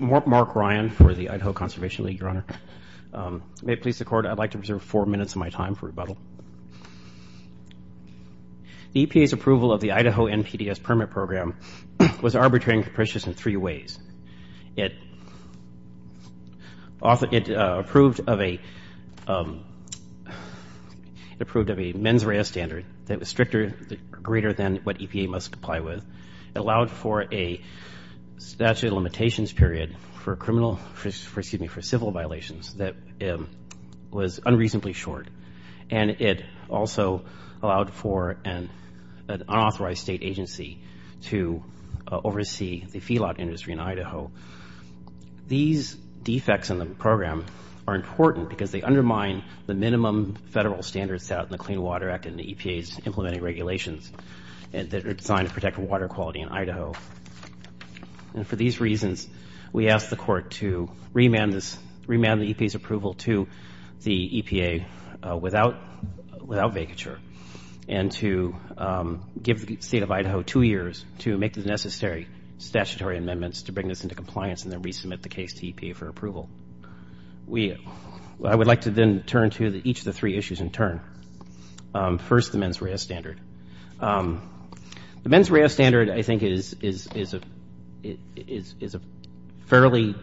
Mark Ryan for the Idaho Conservation League, Your Honor. May it please the Court, I'd like to reserve four minutes of my time for rebuttal. The EPA's approval of the Idaho NPDES permit program was arbitrary and capricious in three ways. It approved of a mens rea standard that was stricter, greater than what EPA must comply with. It allowed for a statute of limitations period for civil violations that was unreasonably short. And it also allowed for an unauthorized state agency to oversee the feedlot industry in Idaho. These defects in the program are important because they undermine the minimum federal standards that are set out in the Clean Water Act and the EPA's implementing regulations that are designed to protect water quality in Idaho. And for these reasons, we ask the Court to remand the EPA's approval to the EPA without vacature and to give the State of Idaho two years to make the necessary statutory amendments to bring this into compliance and then resubmit the case to EPA for approval. I would like to then turn to each of the three issues in turn. First, the mens rea standard. The mens rea standard, I think, is a fairly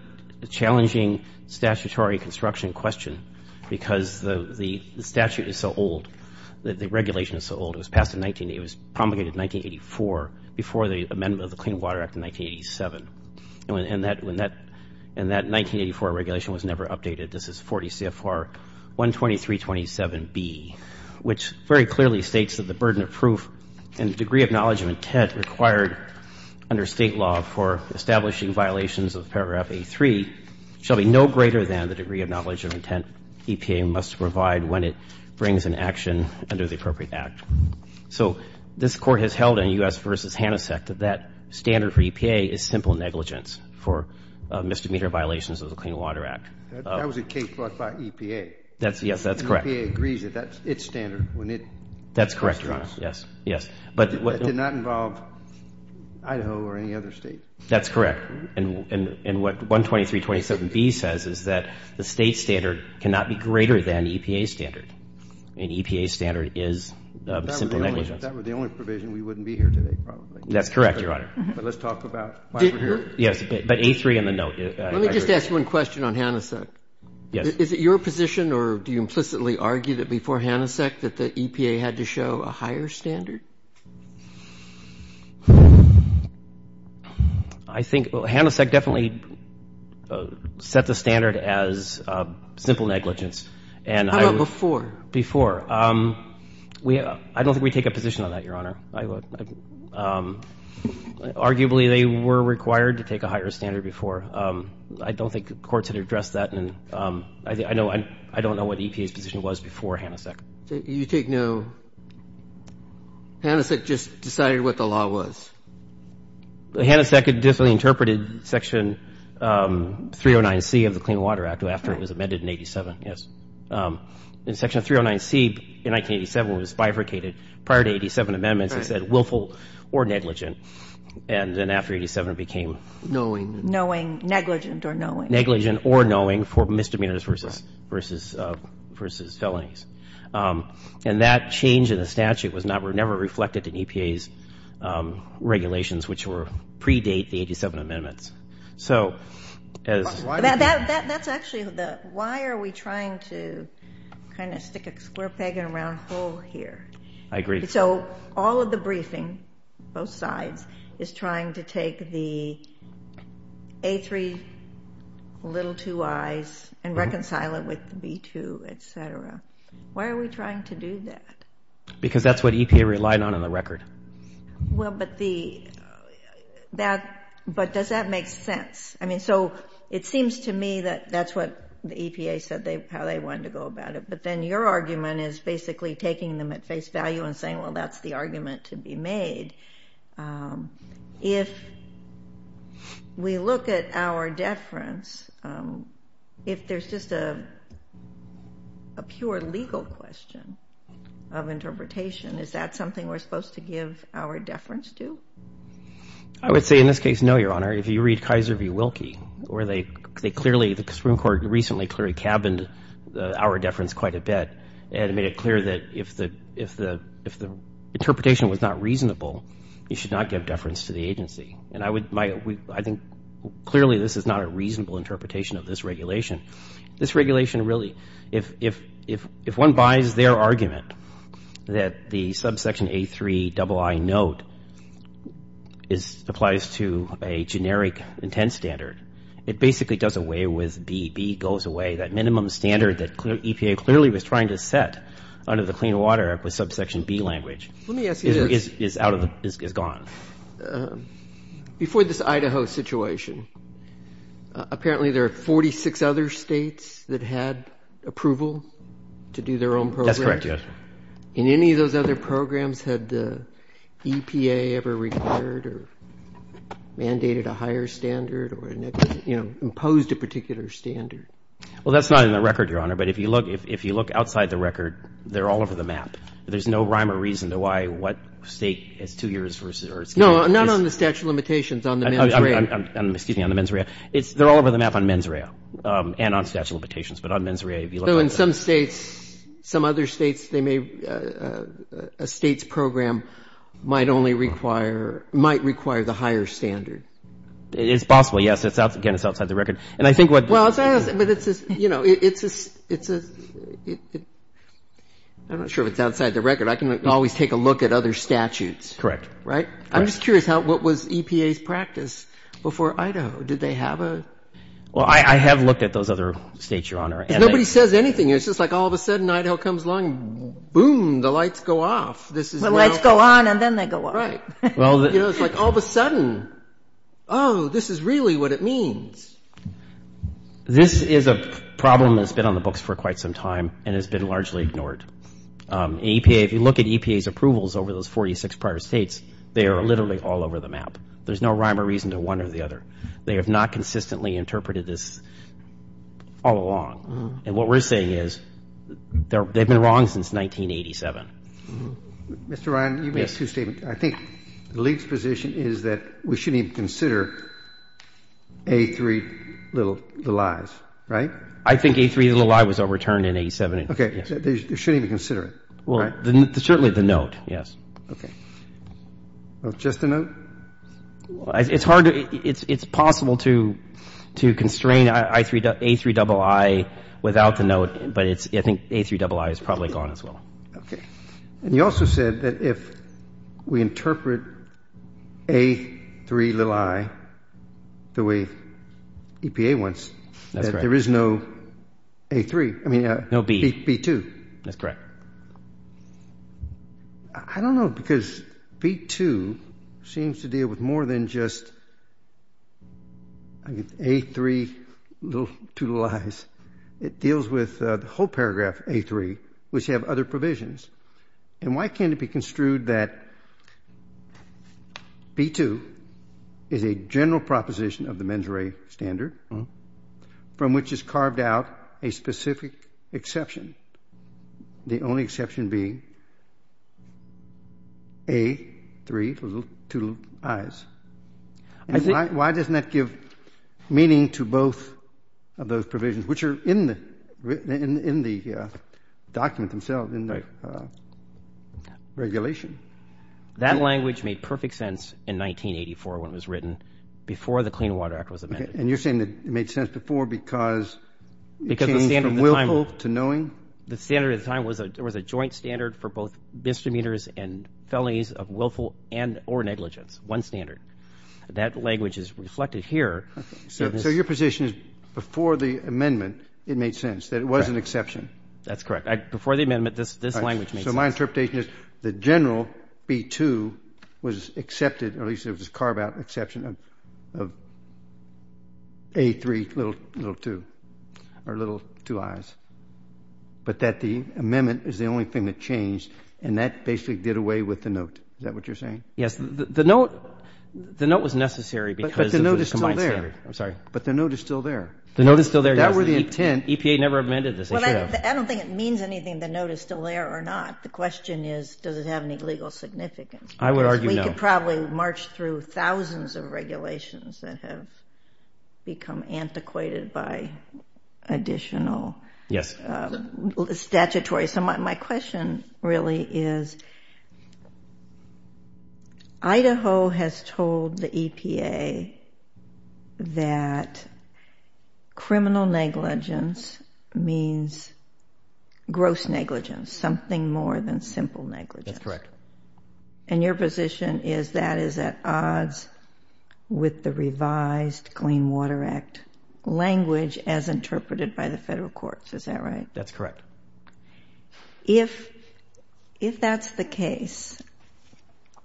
challenging statutory construction question because the statute is so old, the regulation is so old. It was promulgated in 1984 before the amendment of the Clean Water Act in 1987. And that 1984 regulation was never updated. This is 40 CFR 12327B, which very clearly states that the burden of proof and the degree of knowledge of intent required under State law for establishing violations of paragraph 83 shall be no greater than the degree of knowledge of intent EPA must provide when it brings an action under the appropriate act. So this Court has held in U.S. v. HANASEC that that standard for EPA is simple negligence for misdemeanor violations of the Clean Water Act. That was a case brought by EPA. Yes, that's correct. And EPA agrees that that's its standard when it constructs. That's correct, Your Honor. Yes, yes. That did not involve Idaho or any other State. That's correct. And what 12327B says is that the State standard cannot be greater than EPA's standard. And EPA's standard is simple negligence. If that were the only provision, we wouldn't be here today, probably. That's correct, Your Honor. But let's talk about why we're here. Yes, but 83 in the note. Let me just ask one question on HANASEC. Yes. Is it your position or do you implicitly argue that before HANASEC that the EPA had to show a higher standard? I think HANASEC definitely set the standard as simple negligence. How about before? Before. I don't think we take a position on that, Your Honor. Arguably, they were required to take a higher standard before. I don't think courts had addressed that. And I don't know what EPA's position was before HANASEC. You take no – HANASEC just decided what the law was? HANASEC definitely interpreted Section 309C of the Clean Water Act after it was amended in 87, yes. In Section 309C in 1987, it was bifurcated prior to 87 amendments. It said willful or negligent. And then after 87, it became knowing. Knowing, negligent or knowing. Negligent or knowing for misdemeanors versus felonies. And that change in the statute was never reflected in EPA's regulations, which predate the 87 amendments. So as – That's actually the – why are we trying to kind of stick a square peg in a round hole here? I agree. So all of the briefing, both sides, is trying to take the A3, little two I's, and reconcile it with the B2, et cetera. Why are we trying to do that? Because that's what EPA relied on in the record. Well, but the – that – but does that make sense? I mean, so it seems to me that that's what the EPA said they – how they wanted to go about it. But then your argument is basically taking them at face value and saying, well, that's the argument to be made. If we look at our deference, if there's just a pure legal question of interpretation, is that something we're supposed to give our deference to? I would say in this case, no, Your Honor. If you read Kaiser v. Wilkie, where they clearly – the Supreme Court recently clearly cabined our deference quite a bit and made it clear that if the interpretation was not reasonable, you should not give deference to the agency. And I would – I think clearly this is not a reasonable interpretation of this regulation. This regulation really – if one buys their argument that the subsection A3ii note applies to a generic intent standard, it basically does away with B. B goes away. That minimum standard that EPA clearly was trying to set under the Clean Water Act with subsection B language is out of the – is gone. Before this Idaho situation, apparently there are 46 other states that had approval to do their own program. That's correct, Your Honor. And any of those other programs had the EPA ever required or mandated a higher standard or imposed a particular standard? Well, that's not in the record, Your Honor. But if you look outside the record, they're all over the map. There's no rhyme or reason to why what state has two years versus – or excuse me. No, not on the statute of limitations, on the mens rea. Excuse me, on the mens rea. They're all over the map on mens rea and on statute of limitations. But on mens rea, if you look outside the record. So in some states, some other states, they may – a state's program might only require – might require the higher standard. It's possible, yes. Again, it's outside the record. And I think what – Well, but it's a – I'm not sure if it's outside the record. I can always take a look at other statutes. Correct. Right? I'm just curious how – what was EPA's practice before Idaho? Did they have a – Well, I have looked at those other states, Your Honor. Nobody says anything. It's just like all of a sudden, Idaho comes along, boom, the lights go off. The lights go on and then they go off. Right. It's like all of a sudden, oh, this is really what it means. This is a problem that's been on the books for quite some time and has been largely ignored. EPA – if you look at EPA's approvals over those 46 prior states, they are literally all over the map. There's no rhyme or reason to one or the other. They have not consistently interpreted this all along. And what we're saying is they've been wrong since 1987. Mr. Ryan, you made two statements. I think the league's position is that we shouldn't even consider A3 little – the lies. Right? I think A3 little I was overturned in 87. Okay. They shouldn't even consider it. Well, certainly the note, yes. Okay. Just the note? It's hard to – it's possible to constrain A3 double I without the note, but I think A3 double I is probably gone as well. Okay. And you also said that if we interpret A3 little I the way EPA wants, that there is no A3 – No B. B2. That's correct. I don't know because B2 seems to deal with more than just A3 little – two little I's. It deals with the whole paragraph A3, which have other provisions. And why can't it be construed that B2 is a general proposition of the mens re standard from which is carved out a specific exception, the only exception being A3 little – two little I's? And why doesn't that give meaning to both of those provisions, which are in the document themselves, in the regulation? That language made perfect sense in 1984 when it was written, before the Clean Water Act was amended. And you're saying it made sense before because it came from willful to knowing? The standard at the time was a joint standard for both misdemeanors and felonies of willful and or negligence, one standard. That language is reflected here. So your position is before the amendment, it made sense that it was an exception? That's correct. Before the amendment, this language made sense. So my interpretation is the general B2 was accepted, or at least it was carved out an exception of A3 little – two or little – two I's, but that the amendment is the only thing that changed and that basically did away with the note. Is that what you're saying? Yes. The note was necessary because of the combined standard. But the note is still there. I'm sorry. But the note is still there. The note is still there, yes. That were the intent. EPA never amended this issue. Well, I don't think it means anything, the note is still there or not. The question is, does it have any legal significance? I would argue no. Because we could probably march through thousands of regulations that have become antiquated by additional statutory. So my question really is, Idaho has told the EPA that criminal negligence means gross negligence, something more than simple negligence. That's correct. And your position is that is at odds with the revised Clean Water Act language as interpreted by the federal courts, is that right? That's correct. If that's the case,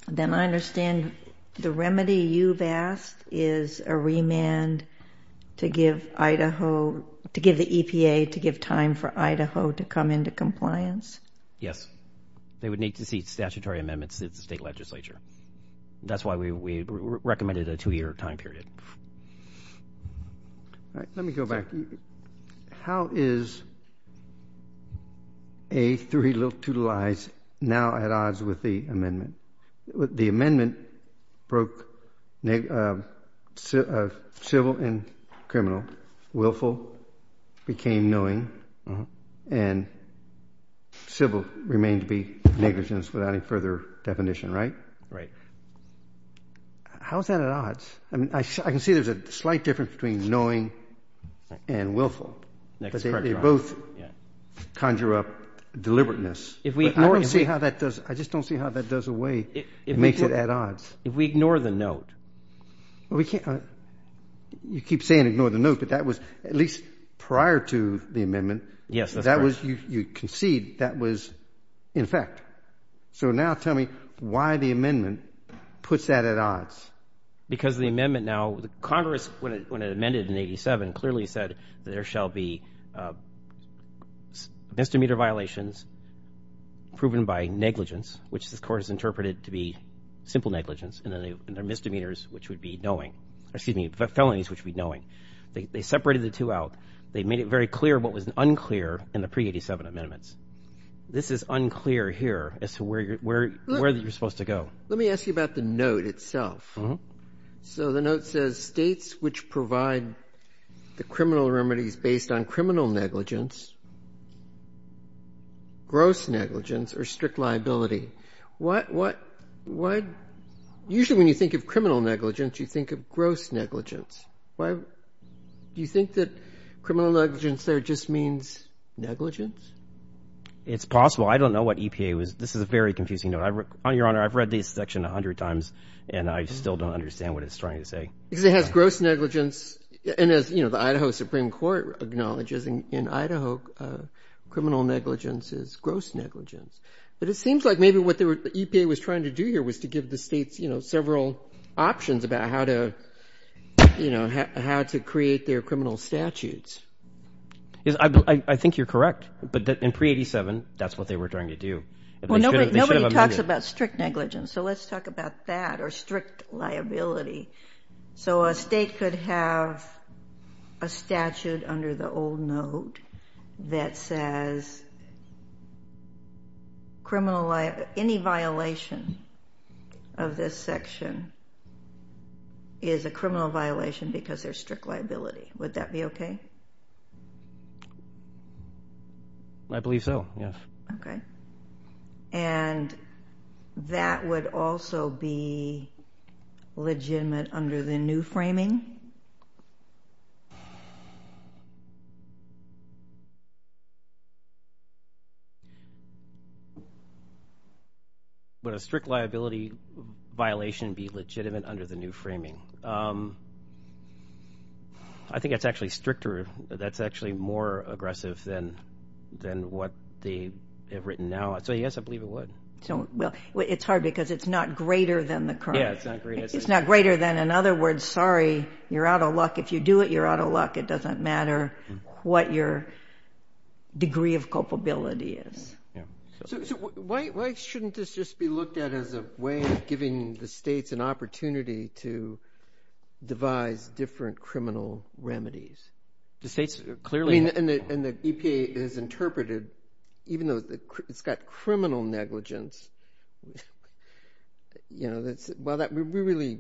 then I understand the remedy you've asked is a remand to give Idaho, to give the EPA, to give time for Idaho to come into compliance? Yes. They would need to see statutory amendments since the state legislature. That's why we recommended a two-year time period. All right. Let me go back. How is A3 little to the lies now at odds with the amendment? The amendment broke civil and criminal, willful became knowing, and civil remained to be negligence without any further definition, right? How is that at odds? I can see there's a slight difference between knowing and willful. That's correct. They both conjure up deliberateness. I just don't see how that does away and makes it at odds. If we ignore the note. You keep saying ignore the note, but that was at least prior to the amendment. Yes, that's correct. You concede that was in effect. So now tell me why the amendment puts that at odds. Because the amendment now, Congress, when it amended in 87, clearly said there shall be misdemeanor violations proven by negligence, which this Court has interpreted to be simple negligence, and then there are misdemeanors which would be knowing, excuse me, felonies which would be knowing. They separated the two out. They made it very clear what was unclear in the pre-'87 amendments. This is unclear here as to where you're supposed to go. Let me ask you about the note itself. So the note says states which provide the criminal remedies based on criminal negligence, gross negligence, or strict liability. Usually when you think of criminal negligence, you think of gross negligence. Do you think that criminal negligence there just means negligence? It's possible. I don't know what EPA was. This is a very confusing note. Your Honor, I've read this section a hundred times, and I still don't understand what it's trying to say. Because it has gross negligence, and as the Idaho Supreme Court acknowledges in Idaho, criminal negligence is gross negligence. But it seems like maybe what the EPA was trying to do here was to give the states several options about how to create their criminal statutes. I think you're correct. But in pre-'87, that's what they were trying to do. Nobody talks about strict negligence, so let's talk about that or strict liability. So a state could have a statute under the old note that says any violation of this section is a criminal violation because there's strict liability. Would that be okay? I believe so, yes. Okay. And that would also be legitimate under the new framing? Would a strict liability violation be legitimate under the new framing? I think that's actually stricter. That's actually more aggressive than what they have written now. So, yes, I believe it would. Well, it's hard because it's not greater than the crime. Yeah, it's not greater. It's not greater than. In other words, sorry, you're out of luck. If you do it, you're out of luck. It doesn't matter what your degree of culpability is. So why shouldn't this just be looked at as a way of giving the states an The states clearly. And the EPA has interpreted, even though it's got criminal negligence, well, really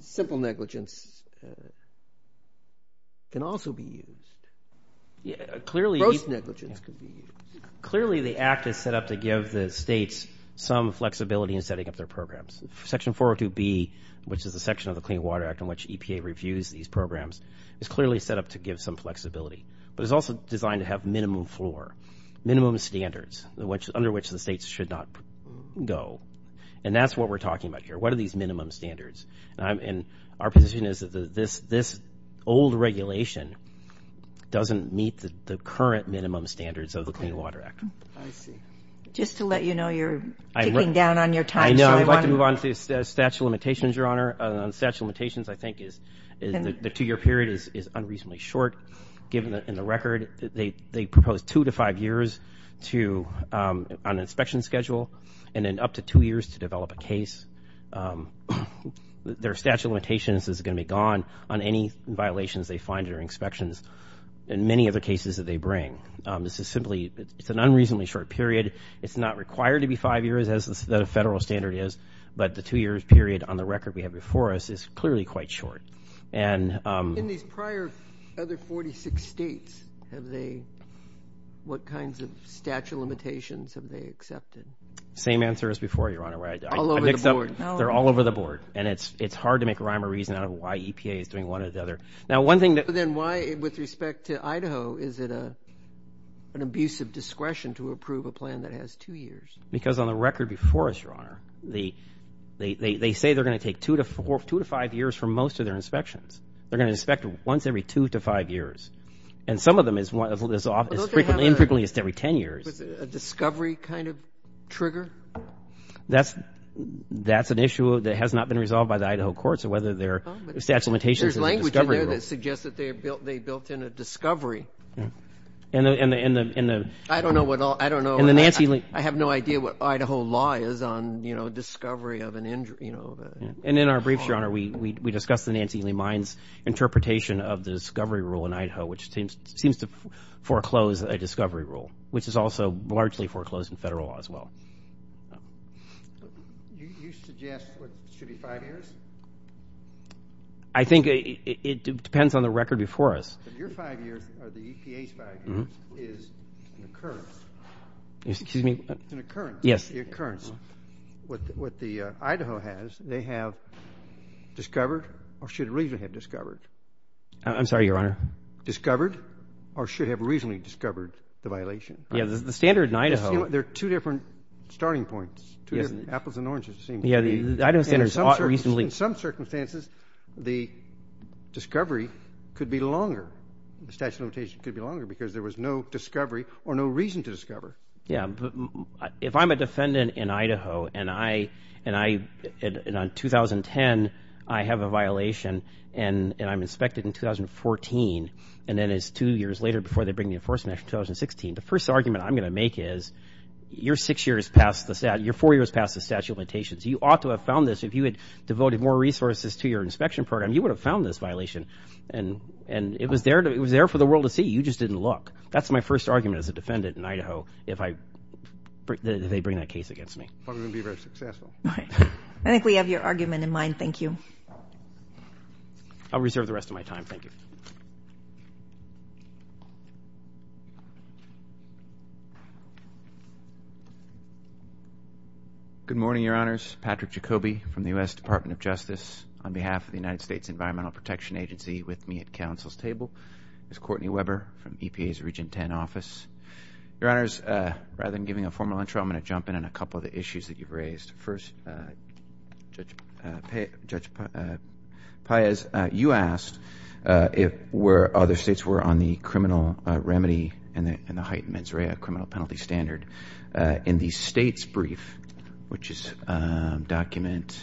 simple negligence can also be used. Gross negligence could be used. Clearly the act is set up to give the states some flexibility in setting up their programs. Section 402B, which is a section of the Clean Water Act, in which EPA reviews these programs, is clearly set up to give some flexibility. But it's also designed to have minimum floor, minimum standards, under which the states should not go. And that's what we're talking about here. What are these minimum standards? And our position is that this old regulation doesn't meet the current minimum standards of the Clean Water Act. I see. Just to let you know, you're ticking down on your time. I'd like to move on to statute of limitations, Your Honor. Statute of limitations, I think, is the two-year period is unreasonably short. Given the record, they propose two to five years on an inspection schedule and then up to two years to develop a case. Their statute of limitations is going to be gone on any violations they find during inspections and many of the cases that they bring. This is simply an unreasonably short period. It's not required to be five years, as the federal standard is, but the two-year period on the record we have before us is clearly quite short. In these prior other 46 states, what kinds of statute of limitations have they accepted? Same answer as before, Your Honor. All over the board. They're all over the board. And it's hard to make rhyme or reason out of why EPA is doing one or the other. Then why, with respect to Idaho, is it an abusive discretion to approve a plan that has two years? Because on the record before us, Your Honor, they say they're going to take two to five years for most of their inspections. They're going to inspect once every two to five years. And some of them is infrequently every ten years. A discovery kind of trigger? That's an issue that has not been resolved by the Idaho courts, or whether their statute of limitations is a discovery rule. There's language in there that suggests that they built in a discovery. I don't know. I have no idea what Idaho law is on discovery of an injury. And in our briefs, Your Honor, we discussed the Nancy Lee Mines interpretation of the discovery rule in Idaho, which seems to foreclose a discovery rule, which is also largely foreclosed in federal law as well. You suggest it should be five years? I think it depends on the record before us. Your five years, or the EPA's five years, is an occurrence. Excuse me? An occurrence. Yes. An occurrence. What the Idaho has, they have discovered, or should reasonably have discovered. I'm sorry, Your Honor. Discovered, or should have reasonably discovered the violation. Yeah, the standard in Idaho. There are two different starting points. Apples and oranges, it seems to me. In some circumstances, the discovery could be longer. The statute of limitations could be longer because there was no discovery or no reason to discover. Yeah, but if I'm a defendant in Idaho, and on 2010, I have a violation, and I'm inspected in 2014, and then it's two years later before they bring the enforcement act in 2016, the first argument I'm going to make is you're four years past the statute of limitations. You ought to have found this. If you had devoted more resources to your inspection program, you would have found this violation, and it was there for the world to see. You just didn't look. That's my first argument as a defendant in Idaho, if they bring that case against me. I'm going to be very successful. All right. I think we have your argument in mind. Thank you. I'll reserve the rest of my time. Thank you. Good morning, Your Honors. Patrick Jacoby from the U.S. Department of Justice. On behalf of the United States Environmental Protection Agency, with me at council's table is Courtney Weber from EPA's Region 10 office. Your Honors, rather than giving a formal intro, I'm going to jump in on a couple of the issues that you've raised. First, Judge Paez, you asked if where other states were on the criminal remedy and the heightened mens rea criminal penalty standard. In the state's brief, which is document,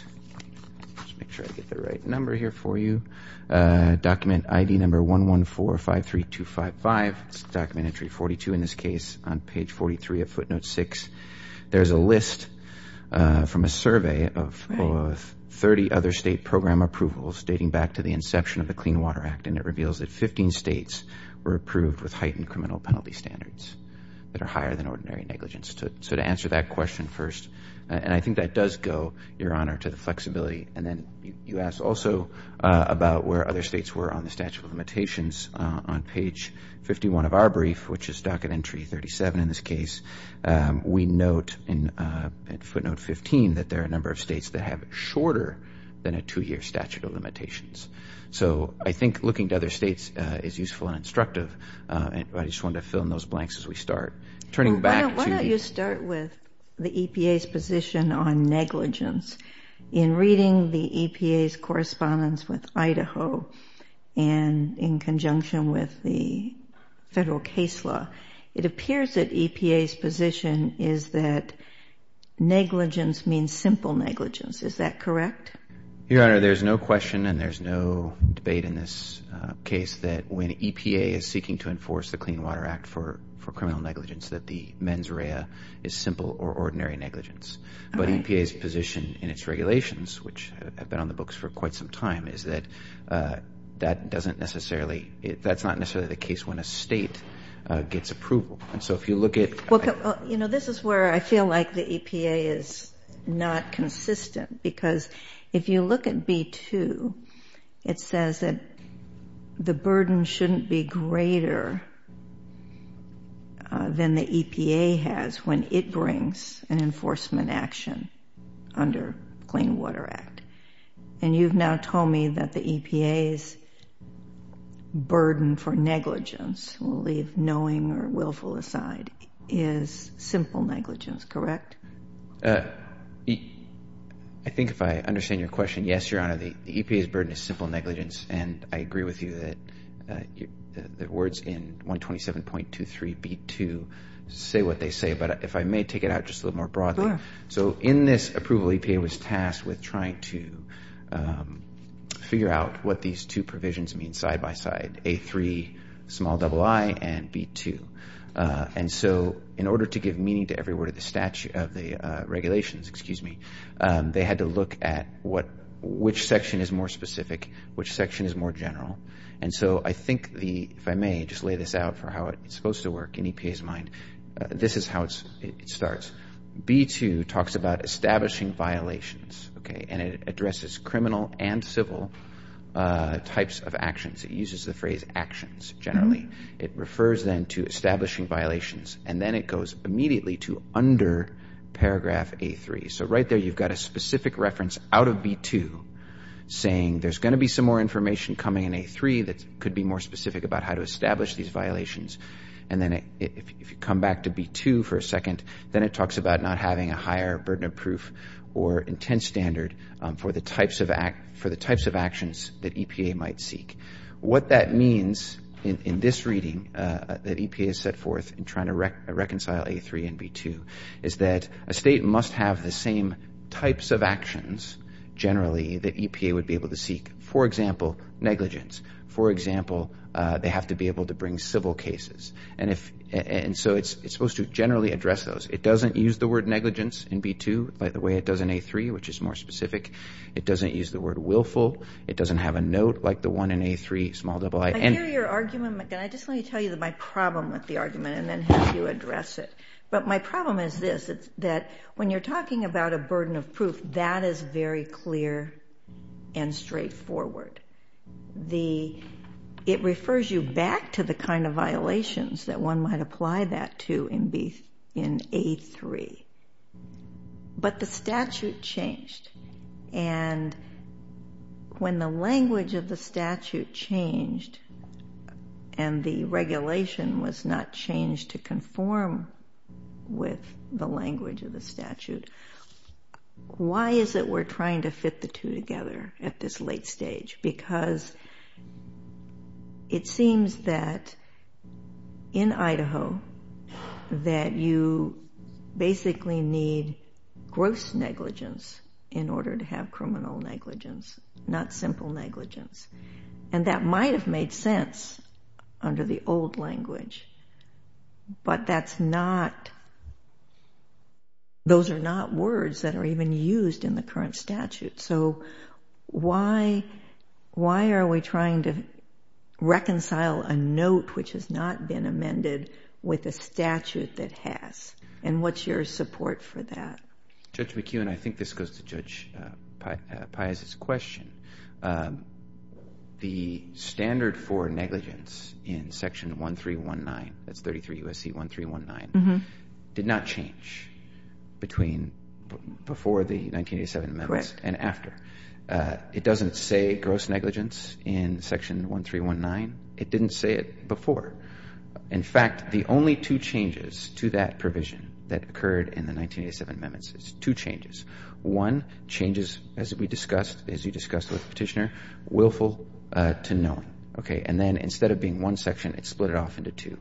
let's make sure I get the right number here for you, document ID number 11453255, document entry 42 in this case, on page 43 of footnote 6, there's a list from a survey of 30 other state program approvals dating back to the inception of the Clean Water Act, and it reveals that 15 states were approved with heightened criminal penalty standards that are higher than ordinary negligence. To answer that question first, and I think that does go, Your Honor, to the flexibility, and then you asked also about where other states were on the statute of limitations. On page 51 of our brief, which is document entry 37 in this case, we note in footnote 15 that there are a number of states that have shorter than a two-year statute of limitations. So I think looking to other states is useful and instructive, and I just wanted to fill in those blanks as we start. Turning back to- Why don't you start with the EPA's position on negligence. In reading the EPA's correspondence with Idaho and in conjunction with the federal case law, it appears that EPA's position is that negligence means simple negligence. Is that correct? Your Honor, there's no question and there's no debate in this case that when EPA is seeking to enforce the Clean Water Act for criminal negligence that the mens rea is simple or ordinary negligence. But EPA's position in its regulations, which have been on the books for quite some time, is that that's not necessarily the case when a state gets approval. And so if you look at- You know, this is where I feel like the EPA is not consistent because if you look at B-2, it says that the burden shouldn't be greater than the EPA has when it brings an enforcement action under Clean Water Act. And you've now told me that the EPA's burden for negligence, we'll leave knowing or willful aside, is simple negligence, correct? I think if I understand your question, yes, Your Honor. The EPA's burden is simple negligence, and I agree with you that the words in 127.23 B-2 say what they say. But if I may take it out just a little more broadly. So in this approval, EPA was tasked with trying to figure out what these two provisions mean side by side, A-3, small double I, and B-2. And so in order to give meaning to every word of the regulations, they had to look at which section is more specific, which section is more general. And so I think, if I may, just lay this out for how it's supposed to work in EPA's mind. This is how it starts. B-2 talks about establishing violations, and it addresses criminal and civil types of actions. It uses the phrase actions generally. It refers then to establishing violations, and then it goes immediately to under paragraph A-3. So right there you've got a specific reference out of B-2 saying there's going to be some more information coming in A-3 that could be more specific about how to establish these violations. And then if you come back to B-2 for a second, then it talks about not having a higher burden of proof or intent standard for the types of actions that EPA might seek. What that means in this reading that EPA has set forth in trying to reconcile A-3 and B-2 is that a state must have the same types of actions generally that EPA would be able to seek. For example, negligence. For example, they have to be able to bring civil cases. And so it's supposed to generally address those. It doesn't use the word negligence in B-2 like the way it does in A-3, which is more specific. It doesn't use the word willful. It doesn't have a note like the one in A-3, small double I. I hear your argument, but I just want to tell you my problem with the argument and then have you address it. But my problem is this. It's that when you're talking about a burden of proof, that is very clear and straightforward. It refers you back to the kind of violations that one might apply that to in A-3. But the statute changed, and when the language of the statute changed and the regulation was not changed to conform with the language of the statute, why is it we're trying to fit the two together at this late stage? Because it seems that in Idaho that you basically need gross negligence in order to have criminal negligence, not simple negligence. And that might have made sense under the old language, but those are not words that are even used in the current statute. So why are we trying to reconcile a note which has not been amended with a statute that has? And what's your support for that? Judge McEwen, I think this goes to Judge Piazza's question. The standard for negligence in Section 1319, that's 33 U.S.C. 1319, did not change between before the 1987 amendments and after. It doesn't say gross negligence in Section 1319. It didn't say it before. In fact, the only two changes to that provision that occurred in the 1987 amendments is two changes. One changes, as we discussed, as you discussed with the Petitioner, willful to known. Okay. And then instead of being one section, it split it off into two.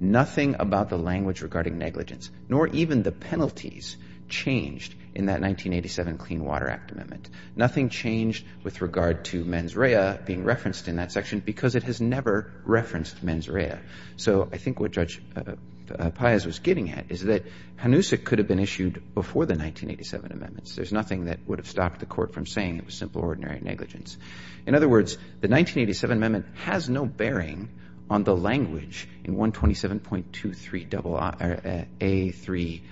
Nothing about the language regarding negligence, nor even the penalties, changed in that 1987 Clean Water Act amendment. Nothing changed with regard to mens rea being referenced in that section because it has never referenced mens rea. So I think what Judge Piazza was getting at is that HANUSA could have been issued before the 1987 amendments. There's nothing that would have stopped the Court from saying it was simple, ordinary negligence. In other words, the 1987 amendment has no bearing on the language in 127.23A3ii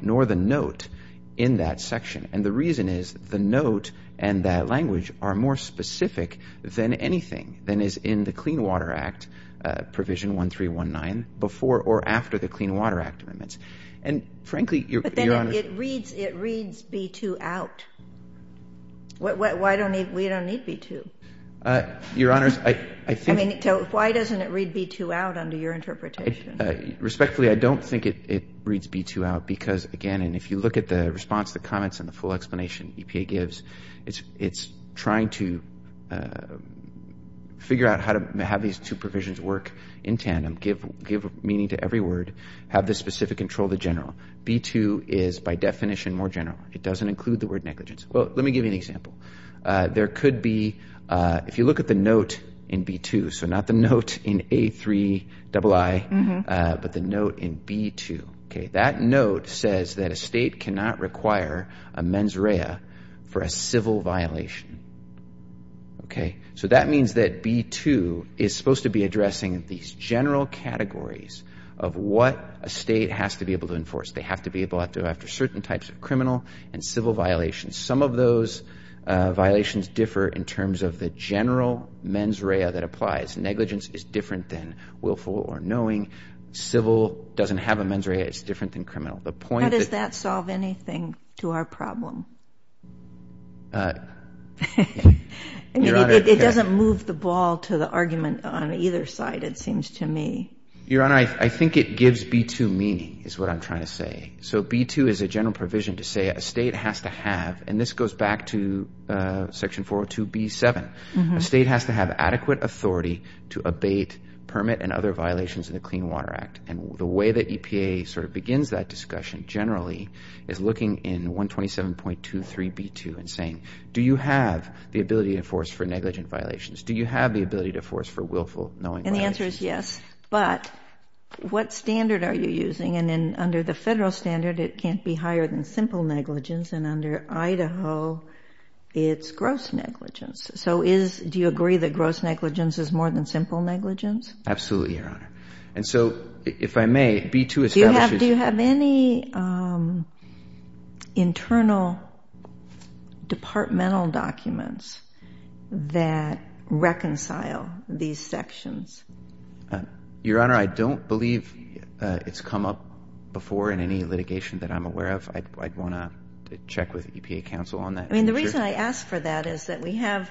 nor the note in that section. And the reason is the note and that language are more specific than anything than is in the Clean Water Act Provision 1319 before or after the Clean Water Act amendments. And frankly, Your Honor ---- But then it reads B2 out. Why don't we need B2? Your Honor, I think ---- I mean, why doesn't it read B2 out under your interpretation? Respectfully, I don't think it reads B2 out because, again, and if you look at the response to the comments and the full explanation EPA gives, it's trying to figure out how to have these two provisions work in tandem, give meaning to every word, have the specific control of the general. B2 is by definition more general. It doesn't include the word negligence. Well, let me give you an example. There could be, if you look at the note in B2, so not the note in A3ii, but the note in B2. That note says that a state cannot require a mens rea for a civil violation. So that means that B2 is supposed to be addressing these general categories of what a state has to be able to enforce. They have to be able to, after certain types of criminal and civil violations. Some of those violations differ in terms of the general mens rea that applies. Negligence is different than willful or knowing. Civil doesn't have a mens rea. It's different than criminal. The point that ---- How does that solve anything to our problem? I mean, it doesn't move the ball to the argument on either side, it seems to me. Your Honor, I think it gives B2 meaning is what I'm trying to say. So B2 is a general provision to say a state has to have, and this goes back to Section 402B7, a state has to have adequate authority to abate permit and other violations in the Clean Water Act. And the way that EPA sort of begins that discussion generally is looking in 127.23B2 and saying, do you have the ability to enforce for negligent violations? Do you have the ability to enforce for willful, knowing violations? And the answer is yes. But what standard are you using? And under the federal standard, it can't be higher than simple negligence. And under Idaho, it's gross negligence. So do you agree that gross negligence is more than simple negligence? Absolutely, Your Honor. And so if I may, B2 establishes ---- Internal departmental documents that reconcile these sections. Your Honor, I don't believe it's come up before in any litigation that I'm aware of. I'd want to check with EPA counsel on that. I mean, the reason I ask for that is that we have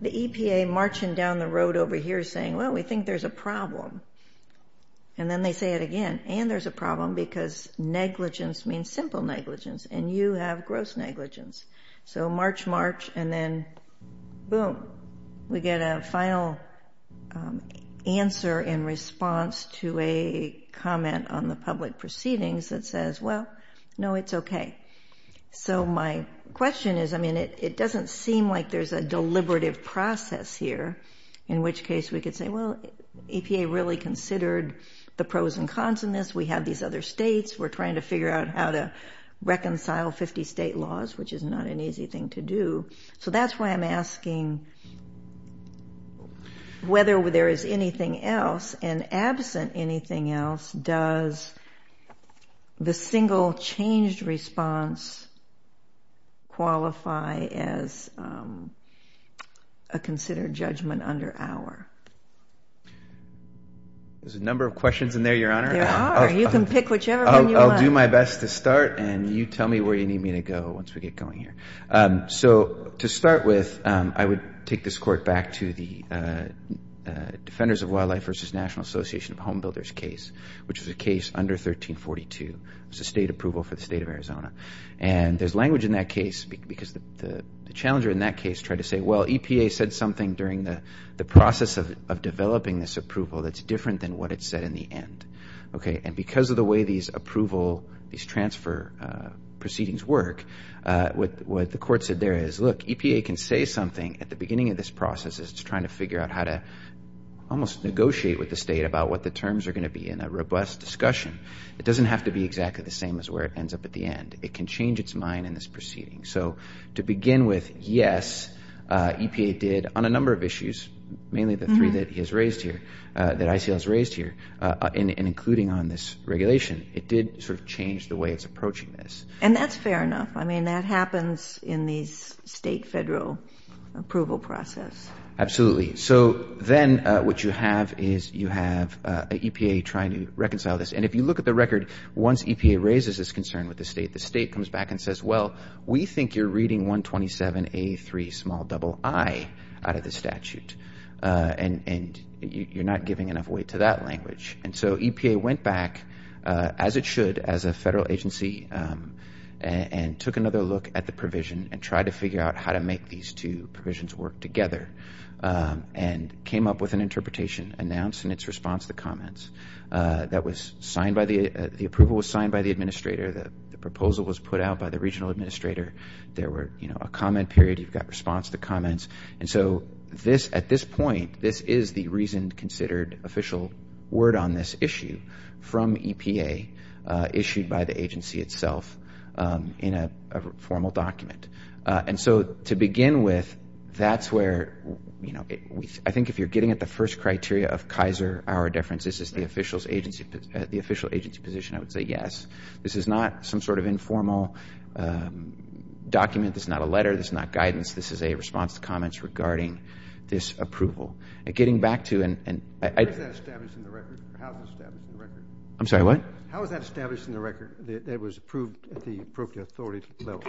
the EPA marching down the road over here saying, well, we think there's a problem. And then they say it again, and there's a problem because negligence means simple negligence, and you have gross negligence. So march, march, and then boom. We get a final answer in response to a comment on the public proceedings that says, well, no, it's okay. So my question is, I mean, it doesn't seem like there's a deliberative process here, in which case we could say, well, EPA really considered the pros and cons in this. We have these other states. We're trying to figure out how to reconcile 50 state laws, which is not an easy thing to do. So that's why I'm asking whether there is anything else, and absent anything else, does the single changed response qualify as a considered judgment under our? There's a number of questions in there, Your Honor. There are. You can pick whichever one you want. I'll do my best to start, and you tell me where you need me to go once we get going here. So to start with, I would take this court back to the Defenders of Wildlife v. National Association of Home Builders case, which was a case under 1342. It was a state approval for the state of Arizona. And there's language in that case because the challenger in that case tried to say, well, EPA said something during the process of developing this approval that's different than what it said in the end. And because of the way these approval, these transfer proceedings work, what the court said there is, look, EPA can say something at the beginning of this process to try to figure out how to almost negotiate with the state about what the terms are going to be in a robust discussion. It doesn't have to be exactly the same as where it ends up at the end. It can change its mind in this proceeding. So to begin with, yes, EPA did on a number of issues, mainly the three that he has raised here, that ICL has raised here, and including on this regulation, it did sort of change the way it's approaching this. And that's fair enough. I mean, that happens in these state federal approval process. Absolutely. So then what you have is you have EPA trying to reconcile this. And if you look at the record, once EPA raises its concern with the state, the state comes back and says, well, we think you're reading 127A3ii out of the statute, and you're not giving enough weight to that language. And so EPA went back, as it should, as a federal agency, and took another look at the provision and tried to figure out how to make these two provisions work together and came up with an interpretation announced in its response to the comments. The approval was signed by the administrator. The proposal was put out by the regional administrator. There were a comment period. You've got response to comments. And so at this point, this is the reasoned, considered official word on this issue from EPA, issued by the agency itself in a formal document. And so to begin with, that's where, you know, I think if you're getting at the first criteria of Kaiser, our difference is the official agency position, I would say yes. This is not some sort of informal document. This is not a letter. This is not guidance. This is a response to comments regarding this approval. And getting back to and I... How is that established in the record? I'm sorry, what? How is that established in the record that was approved at the appropriate authority level?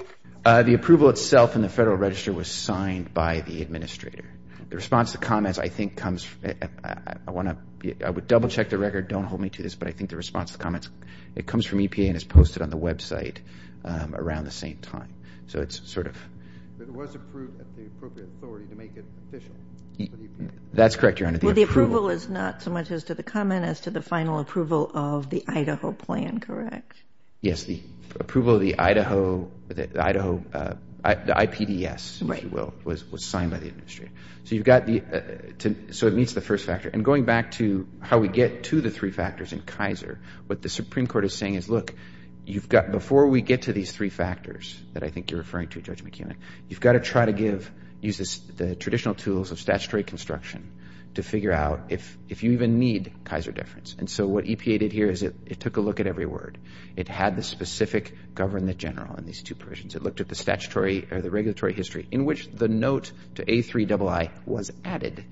The approval itself in the Federal Register was signed by the administrator. The response to comments, I think, comes... I want to double check the record. Don't hold me to this, but I think the response to comments, it comes from EPA and is posted on the website around the same time. So it's sort of... It was approved at the appropriate authority to make it official. That's correct, Your Honor. Well, the approval is not so much as to the comment as to the final approval of the Idaho plan, correct? Yes, the approval of the Idaho, the IPDS, if you will, was signed by the administrator. So you've got the... So it meets the first factor. And going back to how we get to the three factors in Kaiser, what the Supreme Court is saying is, look, you've got... I think you're referring to Judge McEwen. You've got to try to use the traditional tools of statutory construction to figure out if you even need Kaiser deference. And so what EPA did here is it took a look at every word. It had the specific government general in these two provisions. It looked at the statutory or the regulatory history in which the note to A3ii was added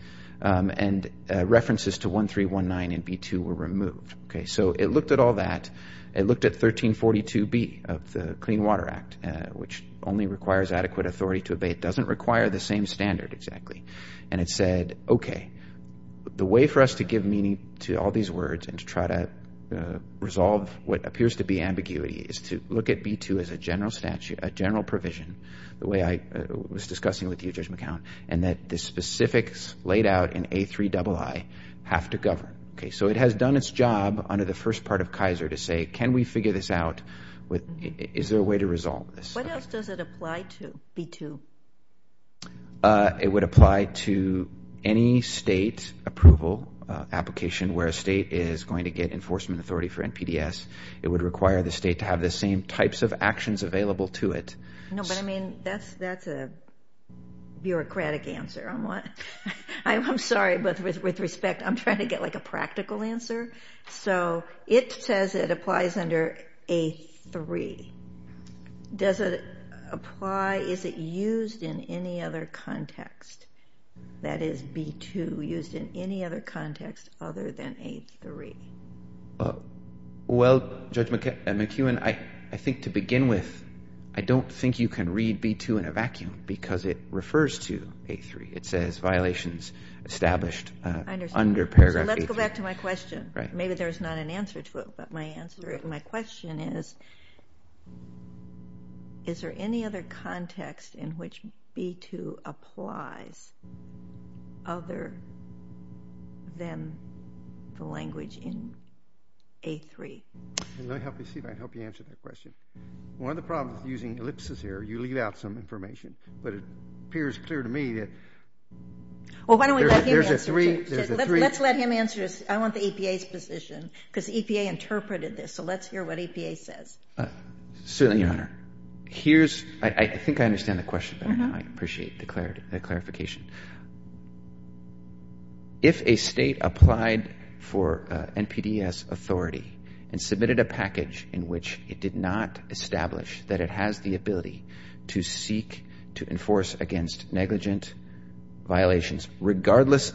and references to 1319 and B2 were removed. So it looked at all that. It looked at 1342B of the Clean Water Act, which only requires adequate authority to obey. It doesn't require the same standard exactly. And it said, okay, the way for us to give meaning to all these words and to try to resolve what appears to be ambiguity is to look at B2 as a general provision, the way I was discussing with you, Judge McEwen, and that the specifics laid out in A3ii have to govern. Okay, so it has done its job under the first part of Kaiser to say, can we figure this out? Is there a way to resolve this? What else does it apply to, B2? It would apply to any state approval application where a state is going to get enforcement authority for NPDES. It would require the state to have the same types of actions available to it. No, but, I mean, that's a bureaucratic answer. I'm sorry, but with respect, I'm trying to get like a practical answer. So it says it applies under A3. Does it apply, is it used in any other context? That is, B2 used in any other context other than A3? Well, Judge McEwen, I think to begin with, I don't think you can read B2 in a vacuum because it refers to A3. It says violations established under paragraph A3. Let's go back to my question. Maybe there's not an answer to it, but my question is, is there any other context in which B2 applies other than the language in A3? Let me see if I can help you answer that question. One of the problems using ellipses here, you leave out some information, but it appears clear to me that there's a three. Let's let him answer this. I want the EPA's position because EPA interpreted this. So let's hear what EPA says. Certainly, Your Honor. I think I understand the question better now. I appreciate the clarification. If a state applied for NPDES authority and submitted a package in which it did not establish that it has the ability to seek to enforce against negligent violations, regardless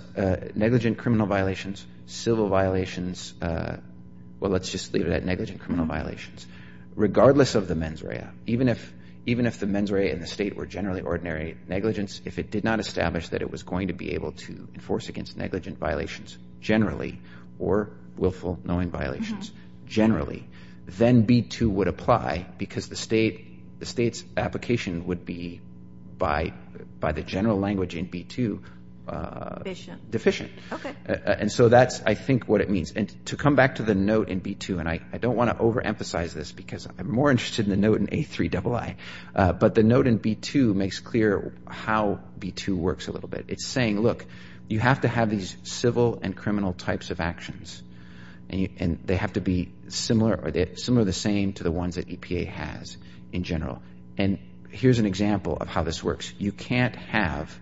negligent criminal violations, civil violations, well, let's just leave it at negligent criminal violations, regardless of the mens rea, even if the mens rea and the state were generally ordinary negligence, if it did not establish that it was going to be able to enforce against negligent violations generally or willful knowing violations generally, then B-2 would apply because the state's application would be, by the general language in B-2, deficient. And so that's, I think, what it means. And to come back to the note in B-2, and I don't want to overemphasize this because I'm more interested in the note in A-3-double-I, but the note in B-2 makes clear how B-2 works a little bit. It's saying, look, you have to have these civil and criminal types of actions, and they have to be similar or similar or the same to the ones that EPA has in general. And here's an example of how this works. You can't have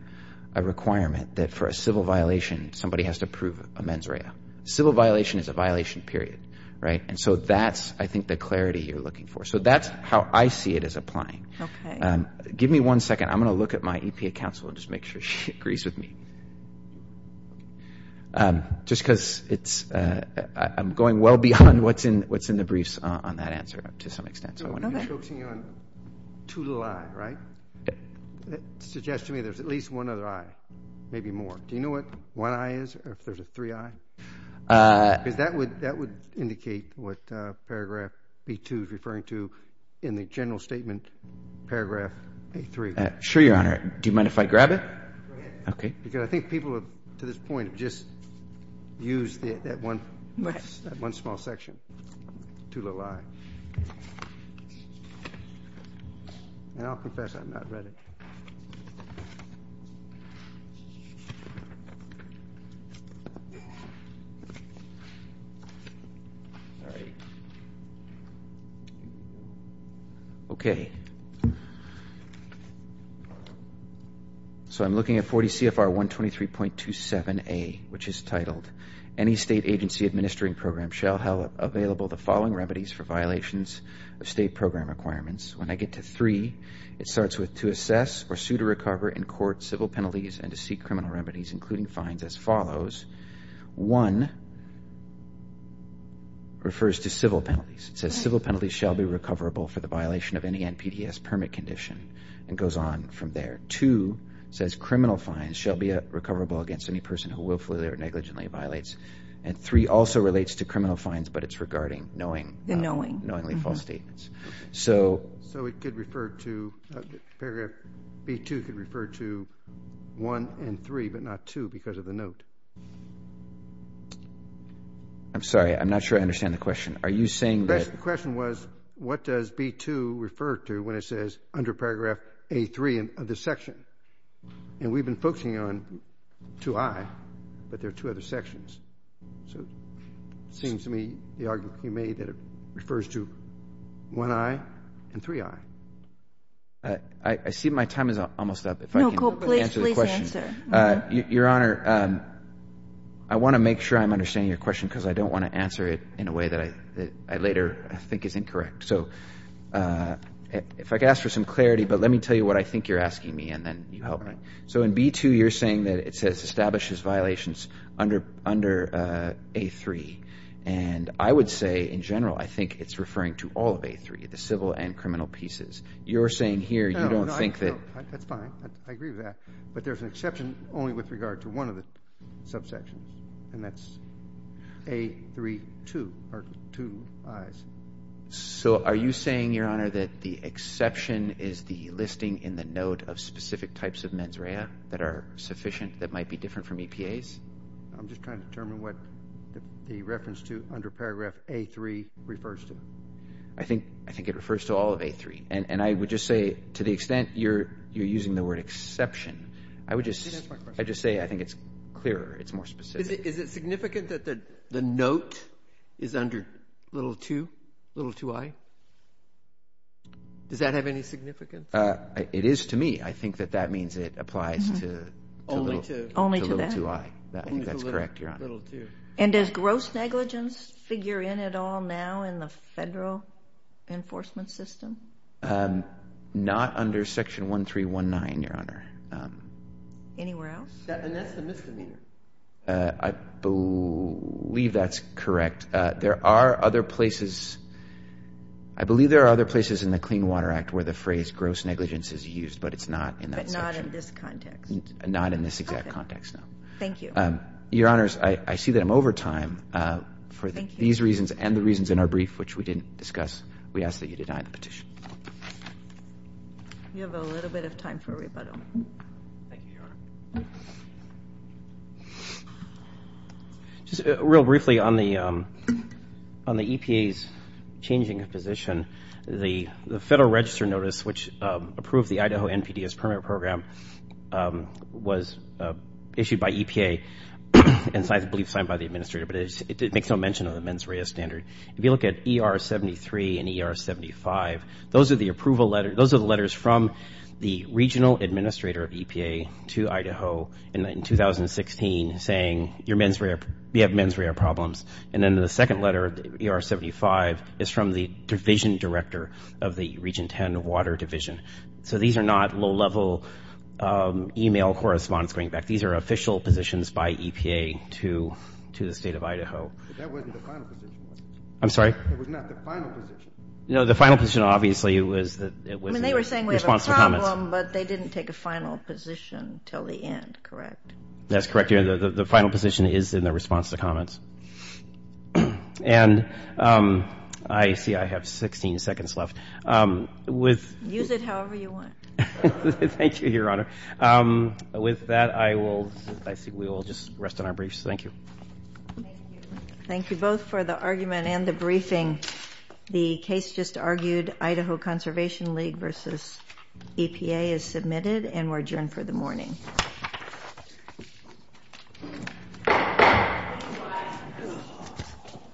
a requirement that for a civil violation somebody has to approve a mens rea. Civil violation is a violation, period, right? And so that's, I think, the clarity you're looking for. So that's how I see it as applying. Okay. Give me one second. I'm going to look at my EPA counsel and just make sure she agrees with me. Just because it's, I'm going well beyond what's in the briefs on that answer to some extent. So I want to be focusing on 2-little-I, right? That suggests to me there's at least one other I, maybe more. Do you know what 1-I is or if there's a 3-I? Because that would indicate what Paragraph B-2 is referring to in the general statement, Paragraph A-3. Sure, Your Honor. Do you mind if I grab it? Go ahead. Okay. Because I think people to this point have just used that one small section, 2-little-I. And I'll confess I've not read it. Okay. Okay. So I'm looking at 40 CFR 123.27a, which is titled, any state agency administering program shall have available the following remedies for violations of state program requirements. When I get to 3, it starts with to assess or sue to recover in court civil penalties and to seek criminal remedies including fines as follows. 1 refers to civil penalties. It says civil penalties shall be recoverable for the violation of any NPDES permit condition and goes on from there. 2 says criminal fines shall be recoverable against any person who willfully or negligently violates. And 3 also relates to criminal fines, but it's regarding knowingly false statements. So it could refer to Paragraph B-2 could refer to 1 and 3, but not 2 because of the note. I'm sorry. I'm not sure I understand the question. Are you saying that? The question was what does B-2 refer to when it says under Paragraph A-3 of the section? And we've been focusing on 2-I, but there are two other sections. So it seems to me the argument you made that it refers to 1-I and 3-I. I see my time is almost up. If I can answer the question. No, please, please answer. Your Honor, I want to make sure I'm understanding your question because I don't want to answer it in a way that I later think is incorrect. So if I could ask for some clarity, but let me tell you what I think you're asking me, and then you help me. So in B-2, you're saying that it says establishes violations under A-3, and I would say in general I think it's referring to all of A-3, the civil and criminal pieces. You're saying here you don't think that. That's fine. I agree with that. But there's an exception only with regard to one of the subsections, and that's A-3-2 or 2-Is. So are you saying, Your Honor, that the exception is the listing in the note of specific types of mens rea that are sufficient that might be different from EPAs? I'm just trying to determine what the reference to under paragraph A-3 refers to. I think it refers to all of A-3, and I would just say to the extent you're using the word exception, I would just say I think it's clearer. It's more specific. Is it significant that the note is under little 2, little 2-I? Does that have any significance? It is to me. I think that that means it applies to little 2-I. I think that's correct, Your Honor. And does gross negligence figure in at all now in the federal enforcement system? Not under Section 1319, Your Honor. Anywhere else? And that's the misdemeanor. I believe that's correct. There are other places. I believe there are other places in the Clean Water Act where the phrase gross negligence is used, but it's not in that section. But not in this context. Not in this exact context, no. Thank you. Your Honors, I see that I'm over time. Thank you. For these reasons and the reasons in our brief, which we didn't discuss, we ask that you deny the petition. You have a little bit of time for rebuttal. Thank you, Your Honor. Just real briefly on the EPA's changing position, the federal register notice which approved the Idaho NPDES permit program was issued by EPA and I believe signed by the administrator, but it makes no mention of the mens rea standard. If you look at ER 73 and ER 75, those are the approval letters. Those are the letters from the regional administrator of EPA to Idaho in 2016 saying, you have mens rea problems. And then the second letter, ER 75, is from the division director of the Region 10 Water Division. So these are not low-level email correspondence going back. These are official positions by EPA to the State of Idaho. That wasn't the final position. I'm sorry? It was not the final position. No, the final position obviously was that it was in response to comments. I mean, they were saying we have a problem, but they didn't take a final position until the end, correct? That's correct, Your Honor. The final position is in the response to comments. And I see I have 16 seconds left. Use it however you want. Thank you, Your Honor. With that, I will just rest on our briefs. Thank you. Thank you both for the argument and the briefing. The case just argued, Idaho Conservation League v. EPA, is submitted and we're adjourned for the morning.